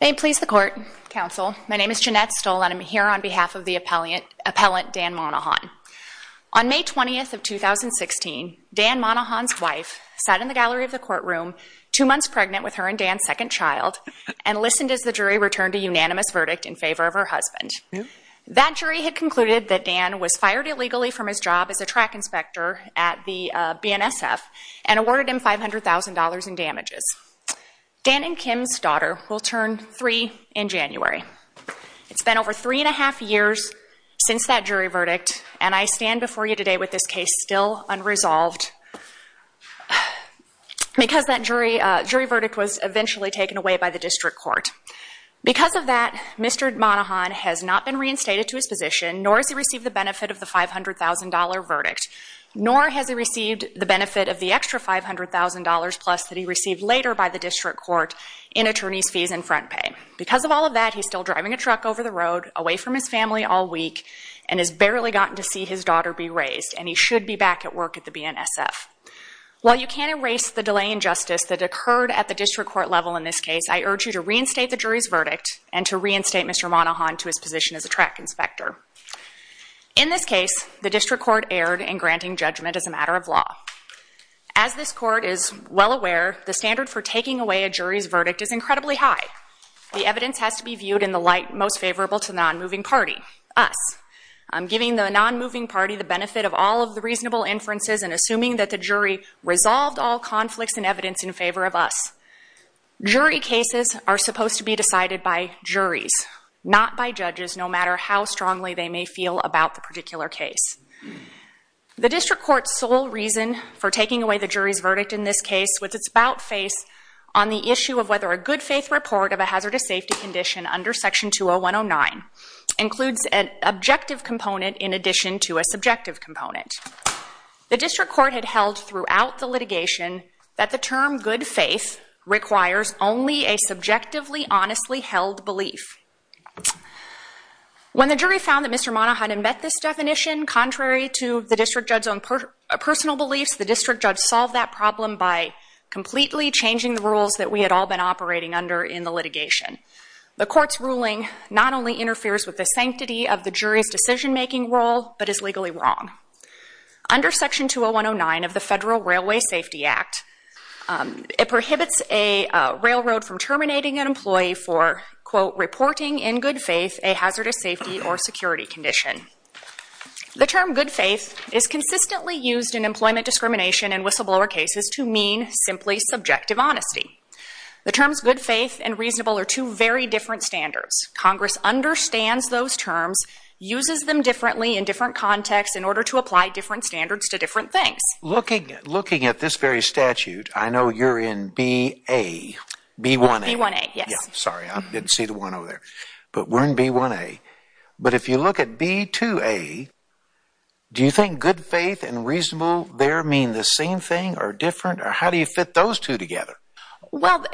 May it please the Court, Counsel, my name is Jeanette Stoll and I'm here on behalf of the appellant Dan Monohon. On May 20th of 2016, Dan Monohon's wife sat in the gallery of the courtroom, two months pregnant with her and Dan's second child, and listened as the jury returned a unanimous verdict in favor of her husband. That jury had concluded that Dan was fired illegally from his job as a track inspector at the BNSF and awarded him $500,000 in damages. Dan and Kim's daughter will turn three in January. It's been over three and a half years since that jury verdict, and I stand before you today with this case still unresolved because that jury verdict was eventually taken away by the district court. Because of that, Mr. Monohon has not been reinstated to his position, nor has he received the benefit of the $500,000 verdict, nor has he received the benefit of the extra $500,000 plus that he received later by the district court in attorney's fees and front pay. Because of all of that, he's still driving a truck over the road, away from his family all week, and has barely gotten to see his daughter be raised, and he should be back at work at the BNSF. While you can't erase the delay in justice that occurred at the district court level in this case, I urge you to reinstate the jury's verdict and to reinstate Mr. Monohon to his position as a track inspector. In this case, the district court erred in granting judgment as a matter of law. As this court is well aware, the standard for taking away a jury's verdict is incredibly high. The evidence has to be viewed in the light most favorable to the non-moving party, us. I'm giving the non-moving party the benefit of all of the reasonable inferences and assuming that the jury resolved all conflicts and evidence in favor of us. Jury cases are supposed to be decided by juries, not by judges, no matter how strongly they may feel about the particular case. The district court's sole reason for taking away the jury's verdict in this case was its bout face on the issue of whether a good-faith report of a hazardous safety condition under section 20109 includes an objective component in addition to a subjective component. The district court had held throughout the litigation that the term good-faith requires only a subjectively honestly held belief. When the jury found that Mr. Monohon had met this definition, contrary to the district judge's own personal beliefs, the district judge solved that problem by completely changing the rules that we had all been operating under in the litigation. The court's ruling not only interferes with the sanctity of the jury's decision-making role, but is legally wrong. Under section 20109 of the Federal Railway Safety Act, it prohibits a railroad from terminating an employee for, quote, reporting in good faith a hazardous safety or security condition. The term good faith is consistently used in employment discrimination and whistleblower cases to mean simply subjective honesty. The terms good faith and reasonable are two very different standards. Congress understands those terms, uses them differently in different contexts in order to apply different standards to different things. Looking at this very statute, I know you're in BA, B1A. B1A, yes. Sorry, I didn't see the one over there. But we're in B1A. But if you look at B2A, do you think good faith and reasonable there mean the same thing or different, or how do you fit those two together? Well,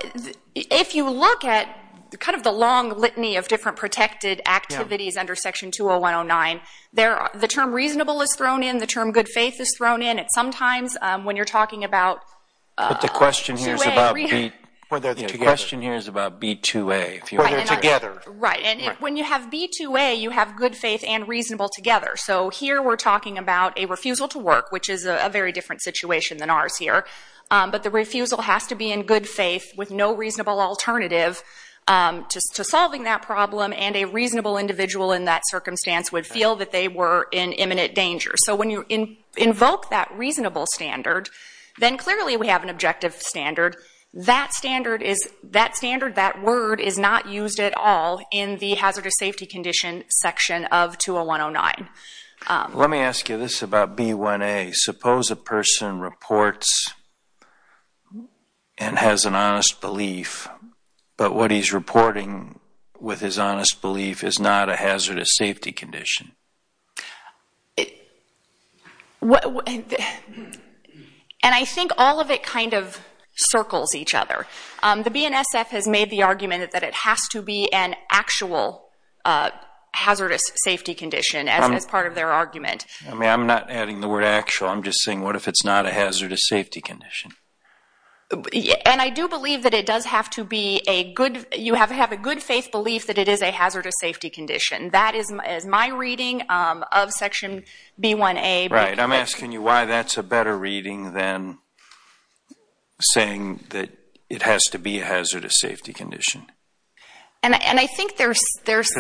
if you look at kind of the long litany of different protected activities under section 20109, the term reasonable is thrown in, the term good faith is thrown in, and sometimes when you're talking about B2A. But the question here is about B2A. When they're together. Right, and when you have B2A, you have good faith and reasonable together. So here we're talking about a refusal to work, which is a very different situation than ours here. But the refusal has to be in good faith with no reasonable alternative to solving that problem, and a reasonable individual in that circumstance would feel that they were in imminent danger. So when you invoke that reasonable standard, then clearly we have an objective standard. That standard, that word, is not used at all in the hazardous safety condition section of 20109. Let me ask you this about B1A. Suppose a person reports and has an honest belief, but what he's reporting with his honest belief is not a hazardous safety condition. And I think all of it kind of circles each other. The BNSF has made the argument that it has to be an actual hazardous safety condition as part of their argument. I mean, I'm not adding the word actual. I'm just saying what if it's not a hazardous safety condition? And I do believe that it does have to be a good faith belief that it is a hazardous safety condition. That is my reading of Section B1A. Right, I'm asking you why that's a better reading than saying that it has to be a hazardous safety condition. Because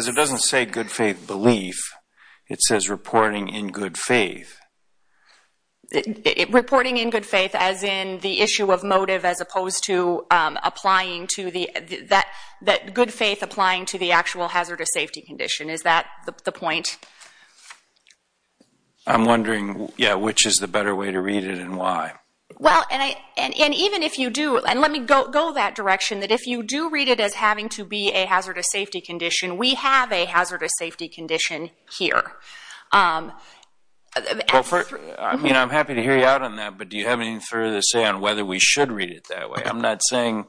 it doesn't say good faith belief. It says reporting in good faith. Reporting in good faith as in the issue of motive as opposed to good faith applying to the actual hazardous safety condition. Is that the point? I'm wondering which is the better way to read it and why. Well, and even if you do, and let me go that direction, that if you do read it as having to be a hazardous safety condition, we have a hazardous safety condition here. I mean, I'm happy to hear you out on that, but do you have any further to say on whether we should read it that way? I'm not saying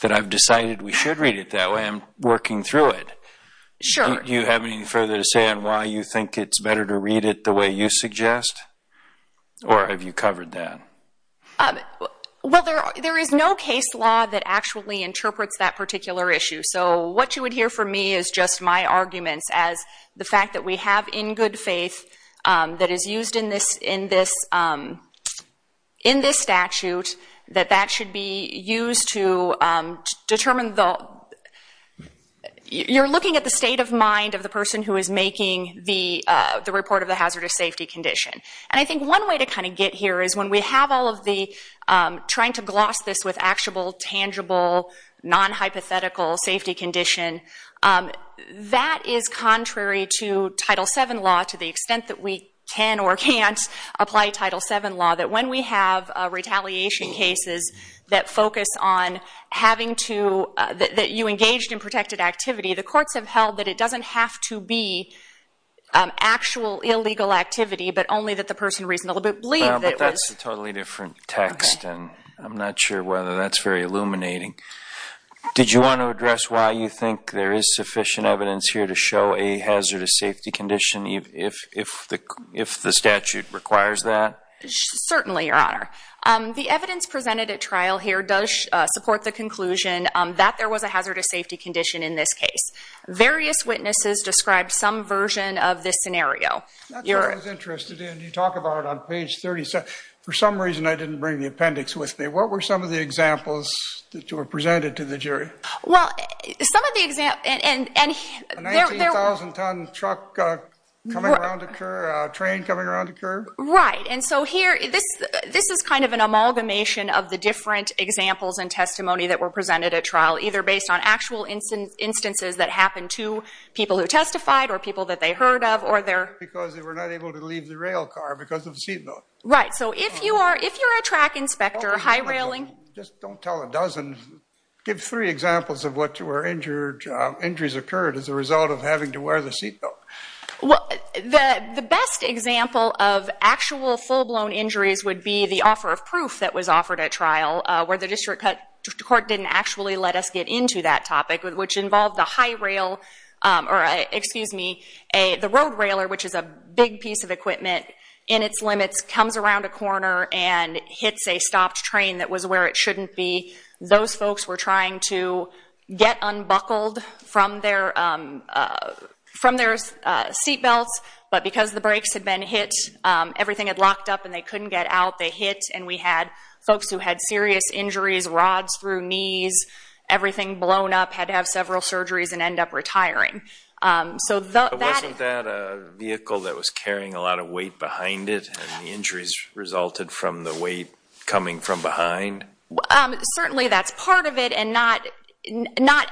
that I've decided we should read it that way. I'm working through it. Sure. Do you have any further to say on why you think it's better to read it the way you suggest? Or have you covered that? Well, there is no case law that actually interprets that particular issue. So what you would hear from me is just my arguments as the fact that we have in good faith that is used in this statute, that that should be used to determine the – And I think one way to kind of get here is when we have all of the trying to gloss this with actual, tangible, non-hypothetical safety condition, that is contrary to Title VII law to the extent that we can or can't apply Title VII law, that when we have retaliation cases that focus on having to – that you engaged in protected activity, the courts have held that it doesn't have to be actual illegal activity, but only that the person reasonably believes that it was – Well, but that's a totally different text, and I'm not sure whether that's very illuminating. Did you want to address why you think there is sufficient evidence here to show a hazardous safety condition if the statute requires that? Certainly, Your Honor. The evidence presented at trial here does support the conclusion that there was a hazardous safety condition in this case. Various witnesses described some version of this scenario. That's what I was interested in. You talk about it on page 37. For some reason, I didn't bring the appendix with me. What were some of the examples that were presented to the jury? Well, some of the – A 19,000-ton truck coming around a curb, a train coming around a curb? Right. And so here, this is kind of an amalgamation of the different examples and testimony that were presented at trial, either based on actual instances that happened to people who testified or people that they heard of or their – because they were not able to leave the rail car because of the seatbelt. Right. So if you're a track inspector, high railing – Just don't tell a dozen. Give three examples of what were injuries occurred as a result of having to wear the seatbelt. The best example of actual full-blown injuries would be the offer of proof that was offered at trial, where the district court didn't actually let us get into that topic, which involved the road railer, which is a big piece of equipment, in its limits, comes around a corner and hits a stopped train that was where it shouldn't be. Those folks were trying to get unbuckled from their seatbelts, but because the brakes had been hit, everything had locked up and they couldn't get out. They hit, and we had folks who had serious injuries, rods through knees, everything blown up, had to have several surgeries and end up retiring. So that – But wasn't that a vehicle that was carrying a lot of weight behind it, and the injuries resulted from the weight coming from behind? Certainly that's part of it, and not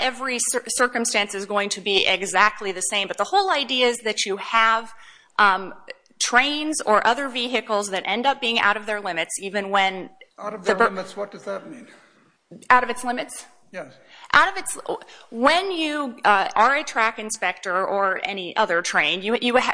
every circumstance is going to be exactly the same. But the whole idea is that you have trains or other vehicles that end up being out of their limits, even when – Out of their limits, what does that mean? Out of its limits? Yes. Out of its – when you are a track inspector or any other train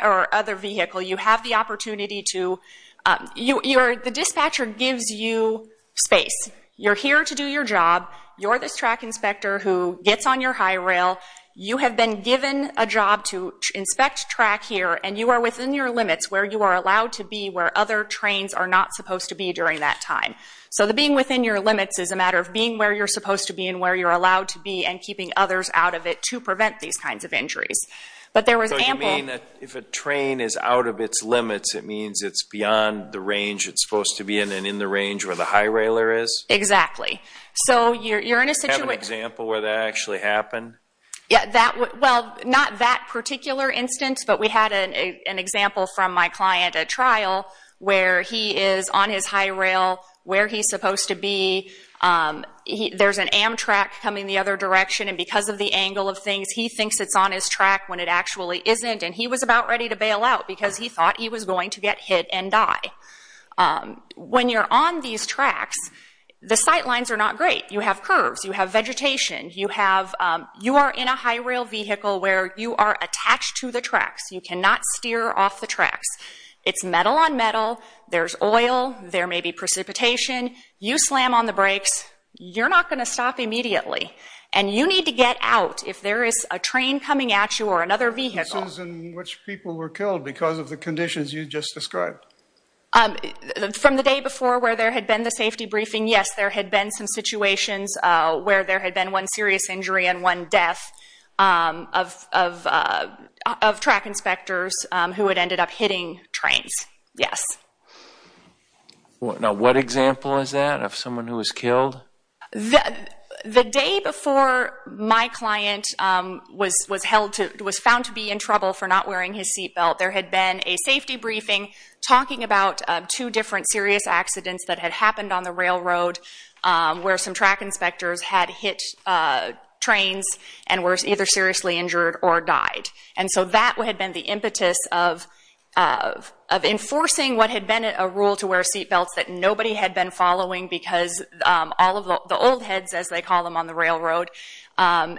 or other vehicle, you have the opportunity to – the dispatcher gives you space. You're here to do your job. You're this track inspector who gets on your high rail. You have been given a job to inspect track here, and you are within your limits where you are allowed to be where other trains are not supposed to be during that time. So being within your limits is a matter of being where you're supposed to be and where you're allowed to be and keeping others out of it to prevent these kinds of injuries. But there was ample – So you mean that if a train is out of its limits, it means it's beyond the range it's supposed to be in and in the range where the high railer is? Exactly. So you're in a situation – Do you have an example where that actually happened? where he is on his high rail where he's supposed to be. There's an Amtrak coming the other direction, and because of the angle of things, he thinks it's on his track when it actually isn't, and he was about ready to bail out because he thought he was going to get hit and die. When you're on these tracks, the sight lines are not great. You have curves. You have vegetation. You have – you are in a high rail vehicle where you are attached to the tracks. You cannot steer off the tracks. It's metal on metal. There's oil. There may be precipitation. You slam on the brakes. You're not going to stop immediately, and you need to get out if there is a train coming at you or another vehicle. In which people were killed because of the conditions you just described? From the day before where there had been the safety briefing, yes, there had been some situations where there had been one serious injury and one death of track inspectors who had ended up hitting trains, yes. Now, what example is that of someone who was killed? The day before my client was found to be in trouble for not wearing his seat belt, there had been a safety briefing talking about two different serious accidents that had happened on the railroad where some track inspectors had hit trains and were either seriously injured or died. And so that had been the impetus of enforcing what had been a rule to wear seat belts that nobody had been following because all of the old heads, as they call them on the railroad, had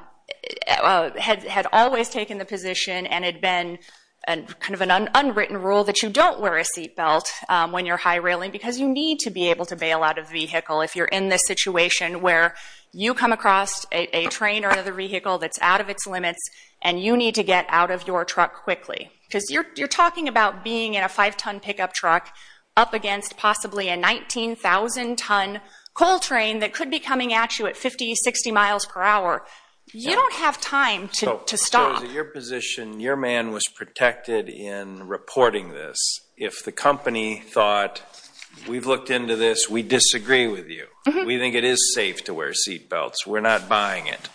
always taken the position and had been kind of an unwritten rule that you don't wear a seat belt when you're high railing because you need to be able to bail out a vehicle if you're in this situation where you come across a train or another vehicle that's out of its limits and you need to get out of your truck quickly. Because you're talking about being in a five-ton pickup truck up against possibly a 19,000-ton coal train that could be coming at you at 50, 60 miles per hour. You don't have time to stop. So it was your position, your man was protected in reporting this. If the company thought, we've looked into this, we disagree with you. We think it is safe to wear seat belts. We're not buying it.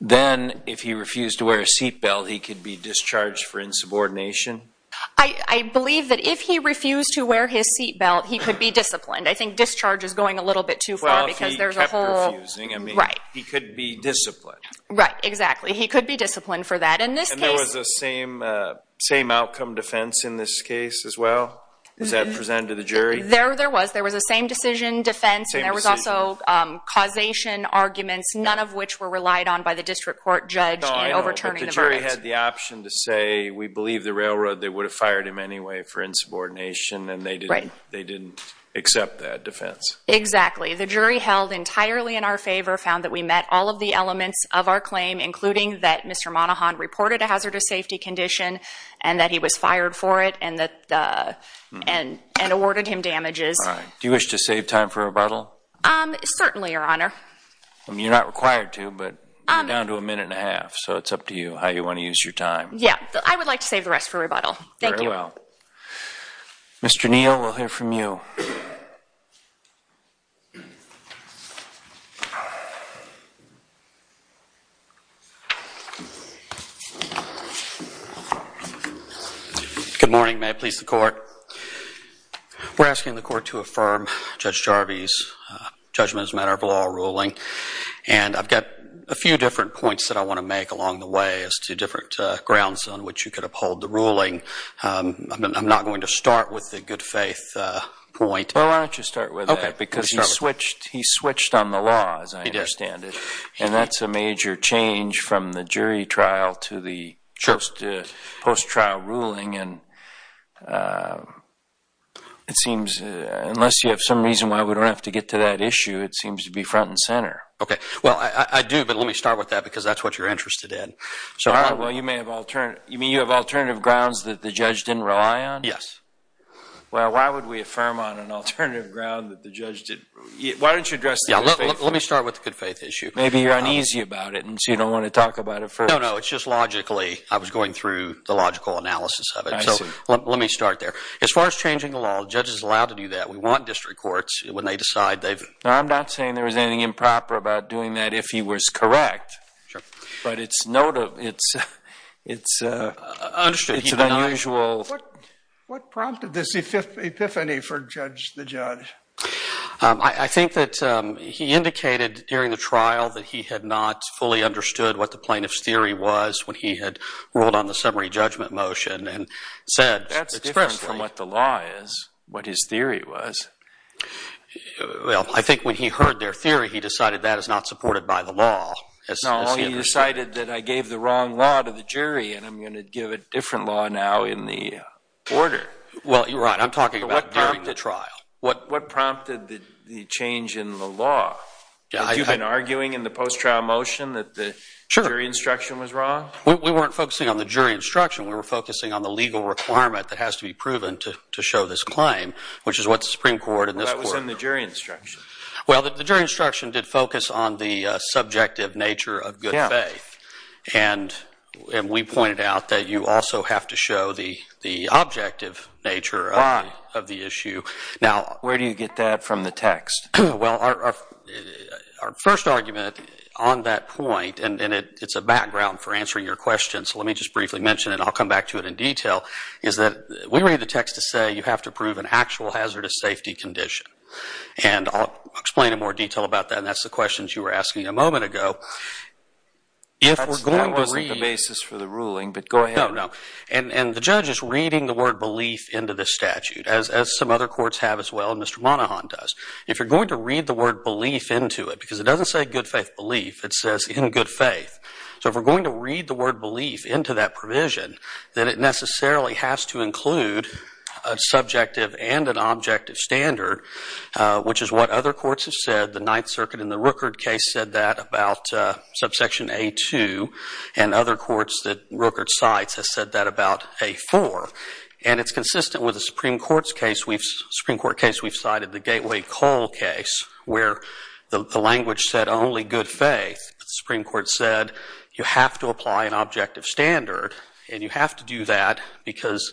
Then if he refused to wear a seat belt, he could be discharged for insubordination? I believe that if he refused to wear his seat belt, he could be disciplined. I think discharge is going a little bit too far because there's a whole... Well, if he kept refusing, I mean, he could be disciplined. Right, exactly. He could be disciplined for that. And there was a same-outcome defense in this case as well? Is that presented to the jury? There was. There was a same-decision defense, and there was also causation arguments, none of which were relied on by the district court judge in overturning the verdict. But the jury had the option to say, we believe the railroad, they would have fired him anyway for insubordination, and they didn't accept that defense. Exactly. The jury held entirely in our favor, found that we met all of the elements of our claim, including that Mr. Monahan reported a hazardous safety condition and that he was fired for it and awarded him damages. Do you wish to save time for rebuttal? Certainly, Your Honor. You're not required to, but you're down to a minute and a half, so it's up to you how you want to use your time. Yeah, I would like to save the rest for rebuttal. Thank you. Very well. Mr. Neal, we'll hear from you. Good morning. May it please the Court. We're asking the Court to affirm Judge Jarvis' judgment as a matter of law ruling, and I've got a few different points that I want to make along the way as to different grounds on which you could uphold the ruling. I'm not going to start with the good faith point. Well, why don't you start with that, because he switched on the law, as I understand it. He did. And that's a major change from the jury trial to the post-trial ruling, and it seems, unless you have some reason why we don't have to get to that issue, it seems to be front and center. Okay. Well, I do, but let me start with that, because that's what you're interested in. Well, you may have alternative grounds that the judge didn't rely on? Yes. Well, why would we affirm on an alternative ground that the judge didn't? Why don't you address the good faith issue? Let me start with the good faith issue. Maybe you're uneasy about it, and so you don't want to talk about it first. No, no, it's just logically I was going through the logical analysis of it. I see. So let me start there. As far as changing the law, the judge is allowed to do that. We want district courts when they decide they've... No, I'm not saying there was anything improper about doing that if he was correct. Sure. But it's an unusual... What prompted this epiphany for the judge? I think that he indicated during the trial that he had not fully understood what the plaintiff's theory was when he had ruled on the summary judgment motion and said... That's different from what the law is, what his theory was. Well, I think when he heard their theory, he decided that is not supported by the law. No, he decided that I gave the wrong law to the jury and I'm going to give a different law now in the order. Well, you're right. I'm talking about during the trial. What prompted the change in the law? Have you been arguing in the post-trial motion that the jury instruction was wrong? We weren't focusing on the jury instruction. We were focusing on the legal requirement that has to be proven to show this claim, which is what the Supreme Court and this court... Well, that was in the jury instruction. Well, the jury instruction did focus on the subjective nature of good faith. And we pointed out that you also have to show the objective nature of the issue. Where do you get that from the text? Well, our first argument on that point, and it's a background for answering your question, so let me just briefly mention it and I'll come back to it in detail, is that we read the text to say you have to prove an actual hazardous safety condition. And I'll explain in more detail about that, and that's the questions you were asking a moment ago. That wasn't the basis for the ruling, but go ahead. No, no. And the judge is reading the word belief into this statute, as some other courts have as well, and Mr. Monahan does. If you're going to read the word belief into it, because it doesn't say good faith belief, it says in good faith. So if we're going to read the word belief into that provision, then it necessarily has to include a subjective and an objective standard, which is what other courts have said. The Ninth Circuit in the Rooker case said that about subsection A-2, and other courts that Rooker cites have said that about A-4. And it's consistent with the Supreme Court case we've cited, the Gateway Coal case, where the language said only good faith. The Supreme Court said you have to apply an objective standard, and you have to do that because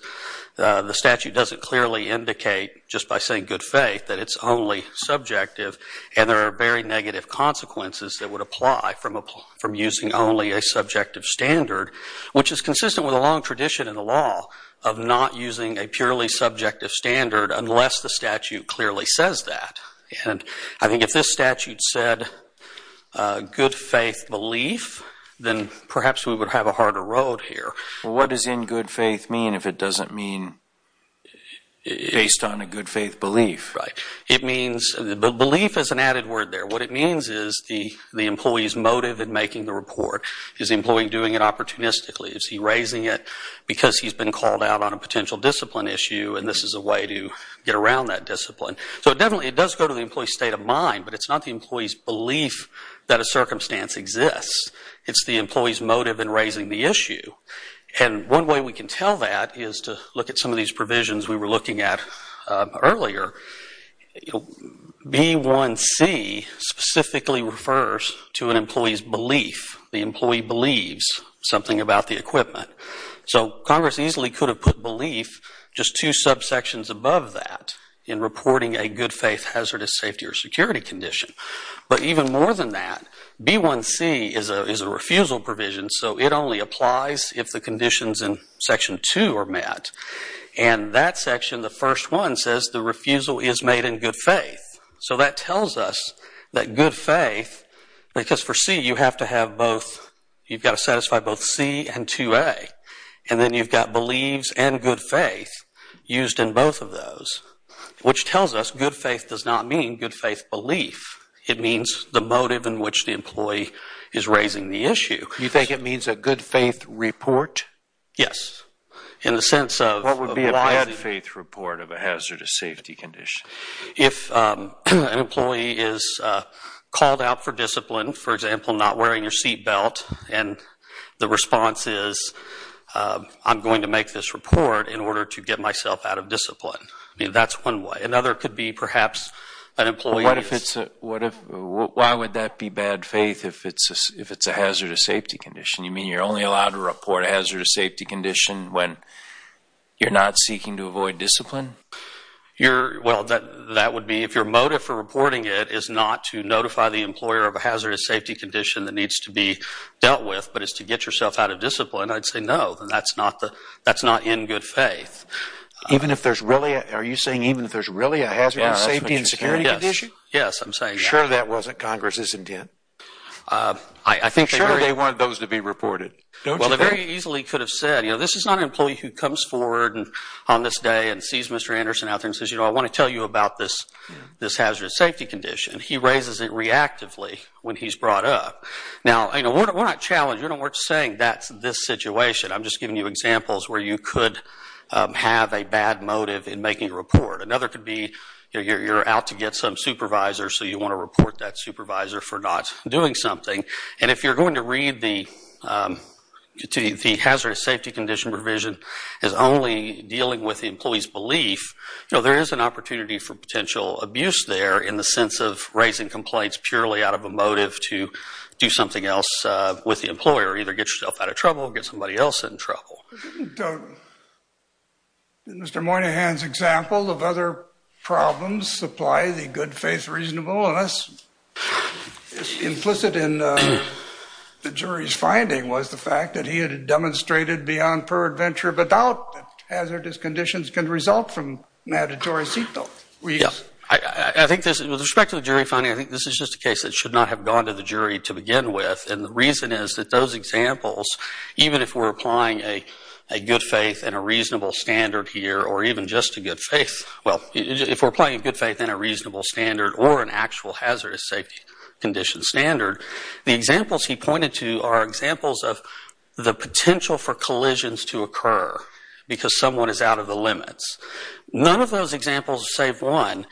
the statute doesn't clearly indicate, just by saying good faith, that it's only subjective, and there are very negative consequences that would apply from using only a subjective standard, which is consistent with a long tradition in the law of not using a purely subjective standard unless the statute clearly says that. And I think if this statute said good faith belief, then perhaps we would have a harder road here. Well, what does in good faith mean if it doesn't mean based on a good faith belief? Belief is an added word there. What it means is the employee's motive in making the report. Is the employee doing it opportunistically? Is he raising it because he's been called out on a potential discipline issue, and this is a way to get around that discipline? So definitely it does go to the employee's state of mind, but it's not the employee's belief that a circumstance exists. It's the employee's motive in raising the issue. And one way we can tell that is to look at some of these provisions we were looking at earlier. B1C specifically refers to an employee's belief. The employee believes something about the equipment. So Congress easily could have put belief just two subsections above that in reporting a good faith hazardous safety or security condition. But even more than that, B1C is a refusal provision, so it only applies if the conditions in Section 2 are met. And that section, the first one, says the refusal is made in good faith. So that tells us that good faith, because for C you have to have both, you've got to satisfy both C and 2A, and then you've got beliefs and good faith used in both of those, which tells us good faith does not mean good faith belief. It means the motive in which the employee is raising the issue. You think it means a good faith report? Yes, in the sense of... What would be a bad faith report of a hazardous safety condition? If an employee is called out for discipline, for example, not wearing your seatbelt, and the response is, I'm going to make this report in order to get myself out of discipline. That's one way. Another could be perhaps an employee... Why would that be bad faith if it's a hazardous safety condition? You mean you're only allowed to report a hazardous safety condition when you're not seeking to avoid discipline? Well, if your motive for reporting it is not to notify the employer of a hazardous safety condition that needs to be dealt with, but is to get yourself out of discipline, I'd say no. That's not in good faith. Are you saying even if there's really a hazardous safety and security condition? Yes, I'm saying that. Are you sure that wasn't Congress's intent? I think... You're sure they wanted those to be reported, don't you think? Well, they very easily could have said, you know, this is not an employee who comes forward on this day and sees Mr. Anderson out there and says, you know, I want to tell you about this hazardous safety condition. He raises it reactively when he's brought up. Now, you know, we're not challenging. We're not saying that's this situation. I'm just giving you examples where you could have a bad motive in making a report. Another could be you're out to get some supervisor, so you want to report that supervisor for not doing something. And if you're going to read the hazardous safety condition provision as only dealing with the employee's belief, you know, there is an opportunity for potential abuse there in the sense of raising complaints purely out of a motive to do something else with the employer, either get yourself out of trouble or get somebody else in trouble. Did Mr. Moynihan's example of other problems supply the good faith reasonableness implicit in the jury's finding was the fact that he had demonstrated beyond peradventure of a doubt that hazardous conditions can result from mandatory seatbelts? Yeah. I think this, with respect to the jury finding, I think this is just a case that should not have gone to the jury to begin with. And the reason is that those examples, even if we're applying a good faith and a reasonable standard here, or even just a good faith, well, if we're applying a good faith and a reasonable standard or an actual hazardous safety condition standard, the examples he pointed to are examples of the potential for collisions to occur because someone is out of the limits. None of those examples save one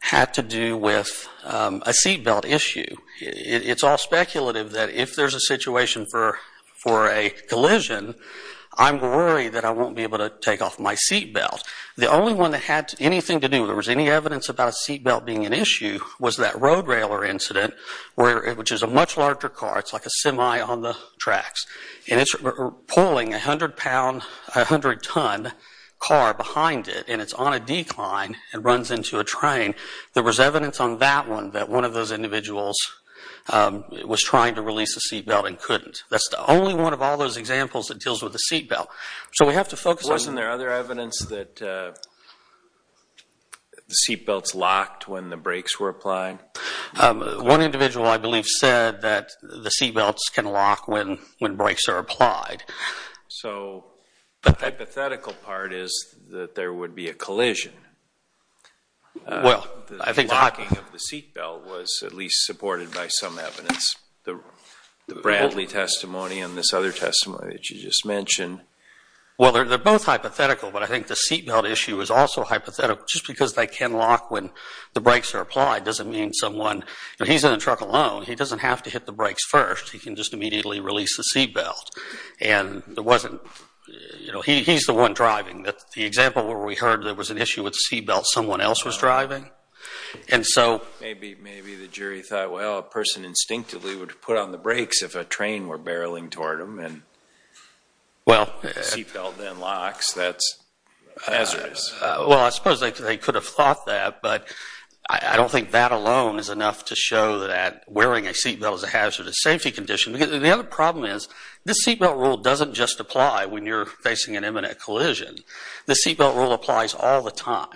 had to do with a seatbelt issue. It's all speculative that if there's a situation for a collision, I'm worried that I won't be able to take off my seatbelt. The only one that had anything to do, if there was any evidence about a seatbelt being an issue, was that road-railer incident, which is a much larger car. It's like a semi on the tracks. And it's pulling a hundred-ton car behind it, and it's on a decline and runs into a train. There was evidence on that one that one of those individuals was trying to release the seatbelt and couldn't. That's the only one of all those examples that deals with the seatbelt. So we have to focus on... Wasn't there other evidence that the seatbelts locked when the brakes were applied? One individual, I believe, said that the seatbelts can lock when brakes are applied. So the hypothetical part is that there would be a collision. The locking of the seatbelt was at least supported by some evidence. The Bradley testimony and this other testimony that you just mentioned. Well, they're both hypothetical, but I think the seatbelt issue is also hypothetical. Just because they can lock when the brakes are applied doesn't mean someone... He's in a truck alone. He doesn't have to hit the brakes first. He can just immediately release the seatbelt. And there wasn't... He's the one driving. The example where we heard there was an issue with the seatbelt, someone else was driving. And so... Maybe the jury thought, well, a person instinctively would put on the brakes if a train were barreling toward them and the seatbelt then locks. That's hazardous. Well, I suppose they could have thought that, but I don't think that alone is enough to show that wearing a seatbelt is a hazardous safety condition. The other problem is this seatbelt rule doesn't just apply when you're facing an imminent collision. The seatbelt rule applies all the time.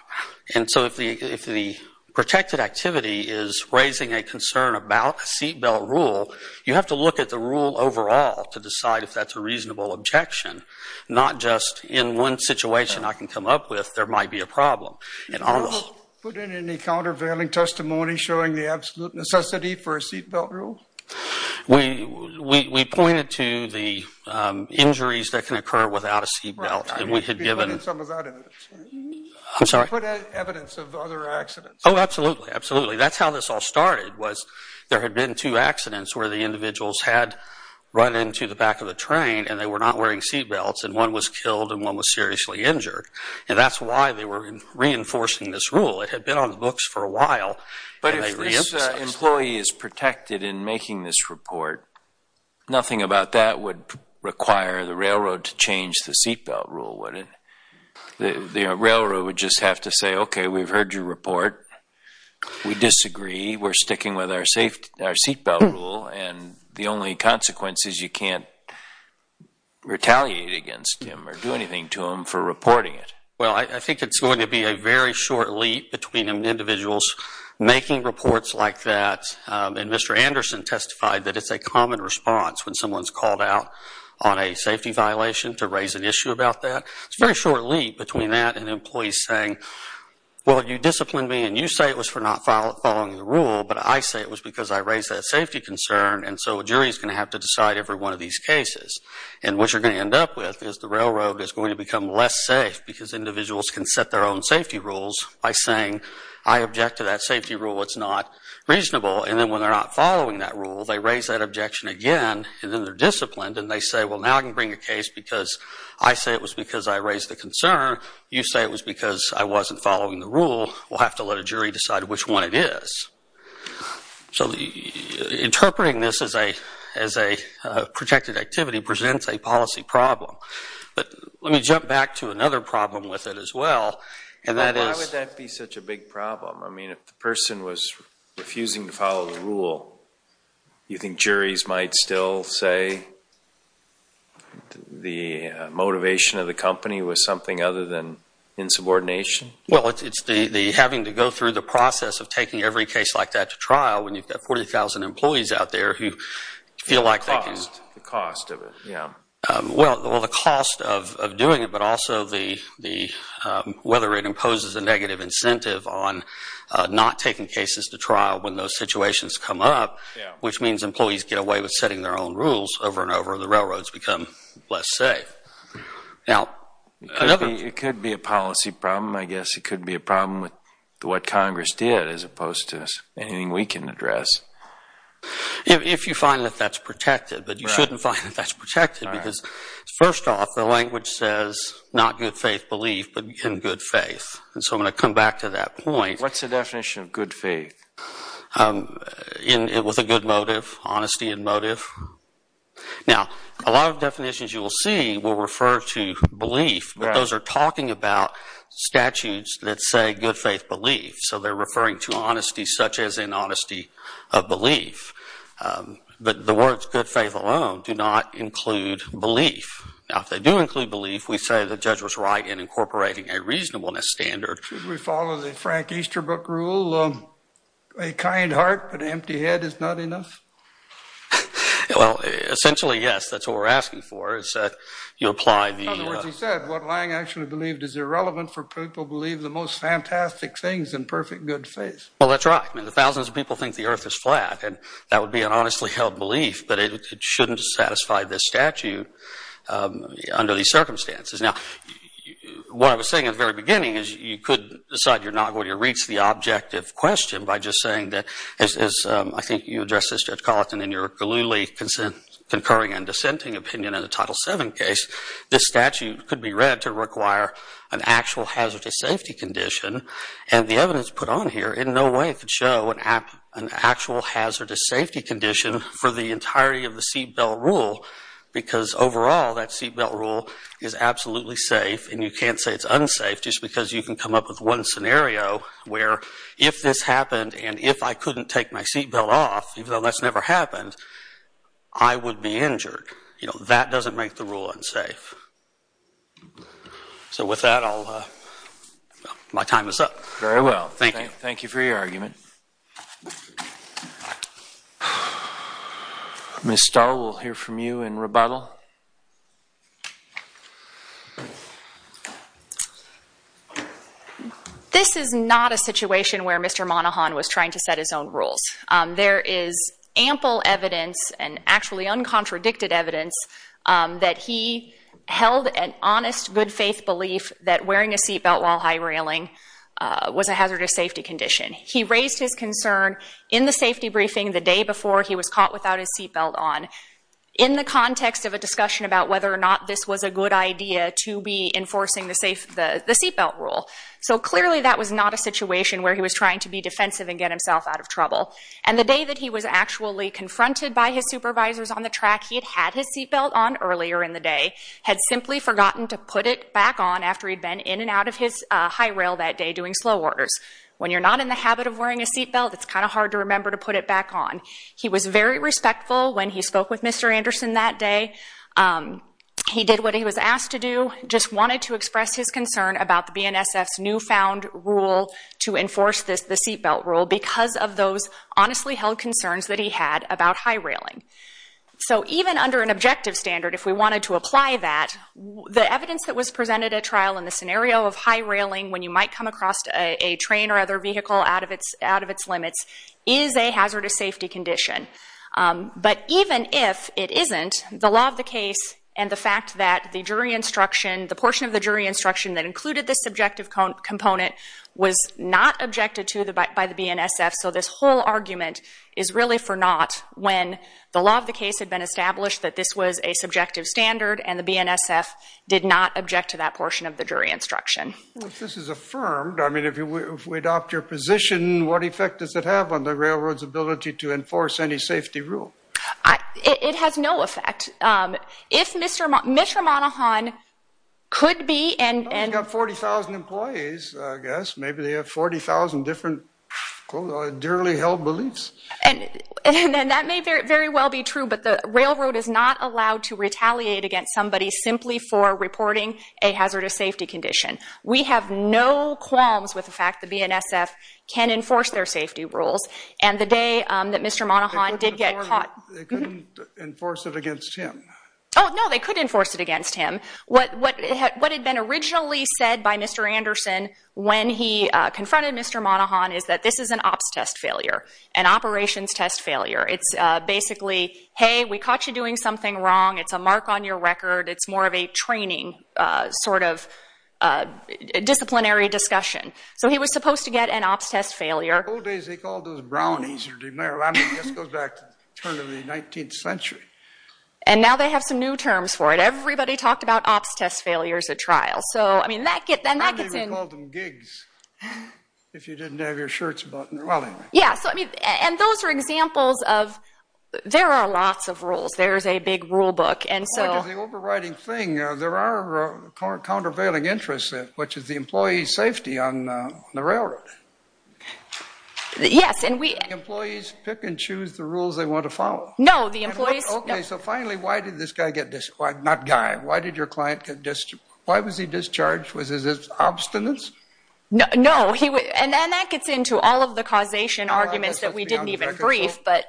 And so if the protected activity is raising a concern about a seatbelt rule, you have to look at the rule overall to decide if that's a reasonable objection, not just in one situation I can come up with there might be a problem. Did you put in any countervailing testimony showing the absolute necessity for a seatbelt rule? We pointed to the injuries that can occur without a seatbelt. We had given... I'm sorry? You put evidence of other accidents. Oh, absolutely, absolutely. That's how this all started was there had been two accidents where the individuals had run into the back of the train and they were not wearing seatbelts, and one was killed and one was seriously injured. And that's why they were reinforcing this rule. It had been on the books for a while. But if this employee is protected in making this report, nothing about that would require the railroad to change the seatbelt rule, would it? The railroad would just have to say, okay, we've heard your report. We disagree. We're sticking with our seatbelt rule, and the only consequence is you can't retaliate against him or do anything to him for reporting it. Well, I think it's going to be a very short leap between individuals making reports like that, and Mr. Anderson testified that it's a common response when someone's called out on a safety violation to raise an issue about that. It's a very short leap between that and employees saying, well, you disciplined me and you say it was for not following the rule, but I say it was because I raised that safety concern, and so a jury's going to have to decide every one of these cases. And what you're going to end up with is the railroad is going to become less safe because individuals can set their own safety rules by saying, I object to that safety rule. It's not reasonable. And then when they're not following that rule, they raise that objection again, and then they're disciplined, and they say, well, now I can bring a case because I say it was because I raised the concern. You say it was because I wasn't following the rule. We'll have to let a jury decide which one it is. So interpreting this as a protected activity presents a policy problem. But let me jump back to another problem with it as well. Why would that be such a big problem? I mean, if the person was refusing to follow the rule, you think juries might still say the motivation of the company was something other than insubordination? Well, it's having to go through the process of taking every case like that to trial when you've got 40,000 employees out there who feel like they can. The cost of it, yeah. Well, the cost of doing it, but also whether it imposes a negative incentive on not taking cases to trial when those situations come up, which means employees get away with setting their own rules over and over and the railroads become less safe. It could be a policy problem. I guess it could be a problem with what Congress did as opposed to anything we can address. If you find that that's protected. But you shouldn't find that that's protected because, first off, the language says not good faith belief but in good faith. And so I'm going to come back to that point. What's the definition of good faith? It was a good motive, honesty in motive. Now, a lot of definitions you will see will refer to belief, but those are talking about statutes that say good faith belief. So they're referring to honesty such as in honesty of belief. But the words good faith alone do not include belief. Now, if they do include belief, we say the judge was right in incorporating a reasonableness standard. Should we follow the Frank Easter book rule, a kind heart but an empty head is not enough? Well, essentially, yes. That's what we're asking for is that you apply the… In other words, he said what Lange actually believed is irrelevant for people who believe the most fantastic things in perfect good faith. Well, that's right. I mean, the thousands of people think the earth is flat, and that would be an honestly held belief, but it shouldn't satisfy this statute under these circumstances. Now, what I was saying at the very beginning is you could decide you're not going to reach the objective question by just saying that, as I think you addressed this, Judge Colleton, in your glibly concurring and dissenting opinion in the Title VII case, this statute could be read to require an actual hazardous safety condition, and the evidence put on here in no way could show an actual hazardous safety condition for the entirety of the seatbelt rule, because overall that seatbelt rule is absolutely safe, and you can't say it's unsafe just because you can come up with one scenario where if this happened and if I couldn't take my seatbelt off, even though that's never happened, I would be injured. You know, that doesn't make the rule unsafe. So with that, my time is up. Very well. Thank you. Thank you for your argument. Ms. Stull, we'll hear from you in rebuttal. This is not a situation where Mr. Monahan was trying to set his own rules. There is ample evidence, and actually uncontradicted evidence, that he held an honest, good-faith belief that wearing a seatbelt while high-railing was a hazardous safety condition. He raised his concern in the safety briefing the day before he was caught without his seatbelt on in the context of a discussion about whether or not this was a good idea to be enforcing the seatbelt rule. So clearly that was not a situation where he was trying to be defensive and get himself out of trouble. And the day that he was actually confronted by his supervisors on the track he had had his seatbelt on earlier in the day, had simply forgotten to put it back on after he'd been in and out of his high rail that day doing slow orders. When you're not in the habit of wearing a seatbelt, it's kind of hard to remember to put it back on. He was very respectful when he spoke with Mr. Anderson that day. He did what he was asked to do, just wanted to express his concern about the BNSF's newfound rule to enforce the seatbelt rule because of those honestly held concerns that he had about high railing. So even under an objective standard, if we wanted to apply that, the evidence that was presented at trial in the scenario of high railing when you might come across a train or other vehicle out of its limits is a hazardous safety condition. But even if it isn't, the law of the case and the fact that the jury instruction, the subjective component, was not objected to by the BNSF, so this whole argument is really for naught when the law of the case had been established that this was a subjective standard and the BNSF did not object to that portion of the jury instruction. Well, if this is affirmed, I mean, if we adopt your position, what effect does it have on the railroad's ability to enforce any safety rule? It has no effect. If Mr. Monahan could be... Well, he's got 40,000 employees, I guess. Maybe they have 40,000 different, quote-unquote, duly held beliefs. And that may very well be true, but the railroad is not allowed to retaliate against somebody simply for reporting a hazardous safety condition. We have no qualms with the fact the BNSF can enforce their safety rules. And the day that Mr. Monahan did get caught... They couldn't enforce it against him. Oh, no, they could enforce it against him. What had been originally said by Mr. Anderson when he confronted Mr. Monahan is that this is an ops test failure, an operations test failure. It's basically, hey, we caught you doing something wrong. It's a mark on your record. It's more of a training sort of disciplinary discussion. So he was supposed to get an ops test failure. In the old days, they called those brownies. I mean, this goes back to the turn of the 19th century. And now they have some new terms for it. Everybody talked about ops test failures at trials. So, I mean, that gets in... Then they would call them gigs if you didn't have your shirts buttoned. Well, anyway. Yeah, so, I mean, and those are examples of... There are lots of rules. There's a big rule book. And so... The overriding thing, there are countervailing interests, which is the employee's safety on the railroad. Yes, and we... Employees pick and choose the rules they want to follow. No, the employees... Okay, so finally, why did this guy get discharged? Not guy. Why did your client get discharged? Why was he discharged? Was it his obstinance? No, and that gets into all of the causation arguments that we didn't even brief, but...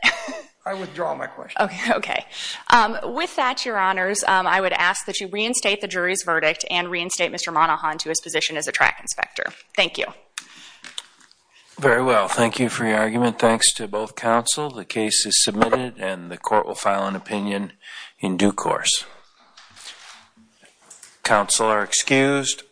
I withdraw my question. Okay. With that, Your Honors, I would ask that you reinstate the jury's verdict and reinstate Mr. Monahan to his position as a track inspector. Thank you. Very well. Thank you for your argument. Thanks to both counsel. The case is submitted and the court will file an opinion in due course. Counsel are excused.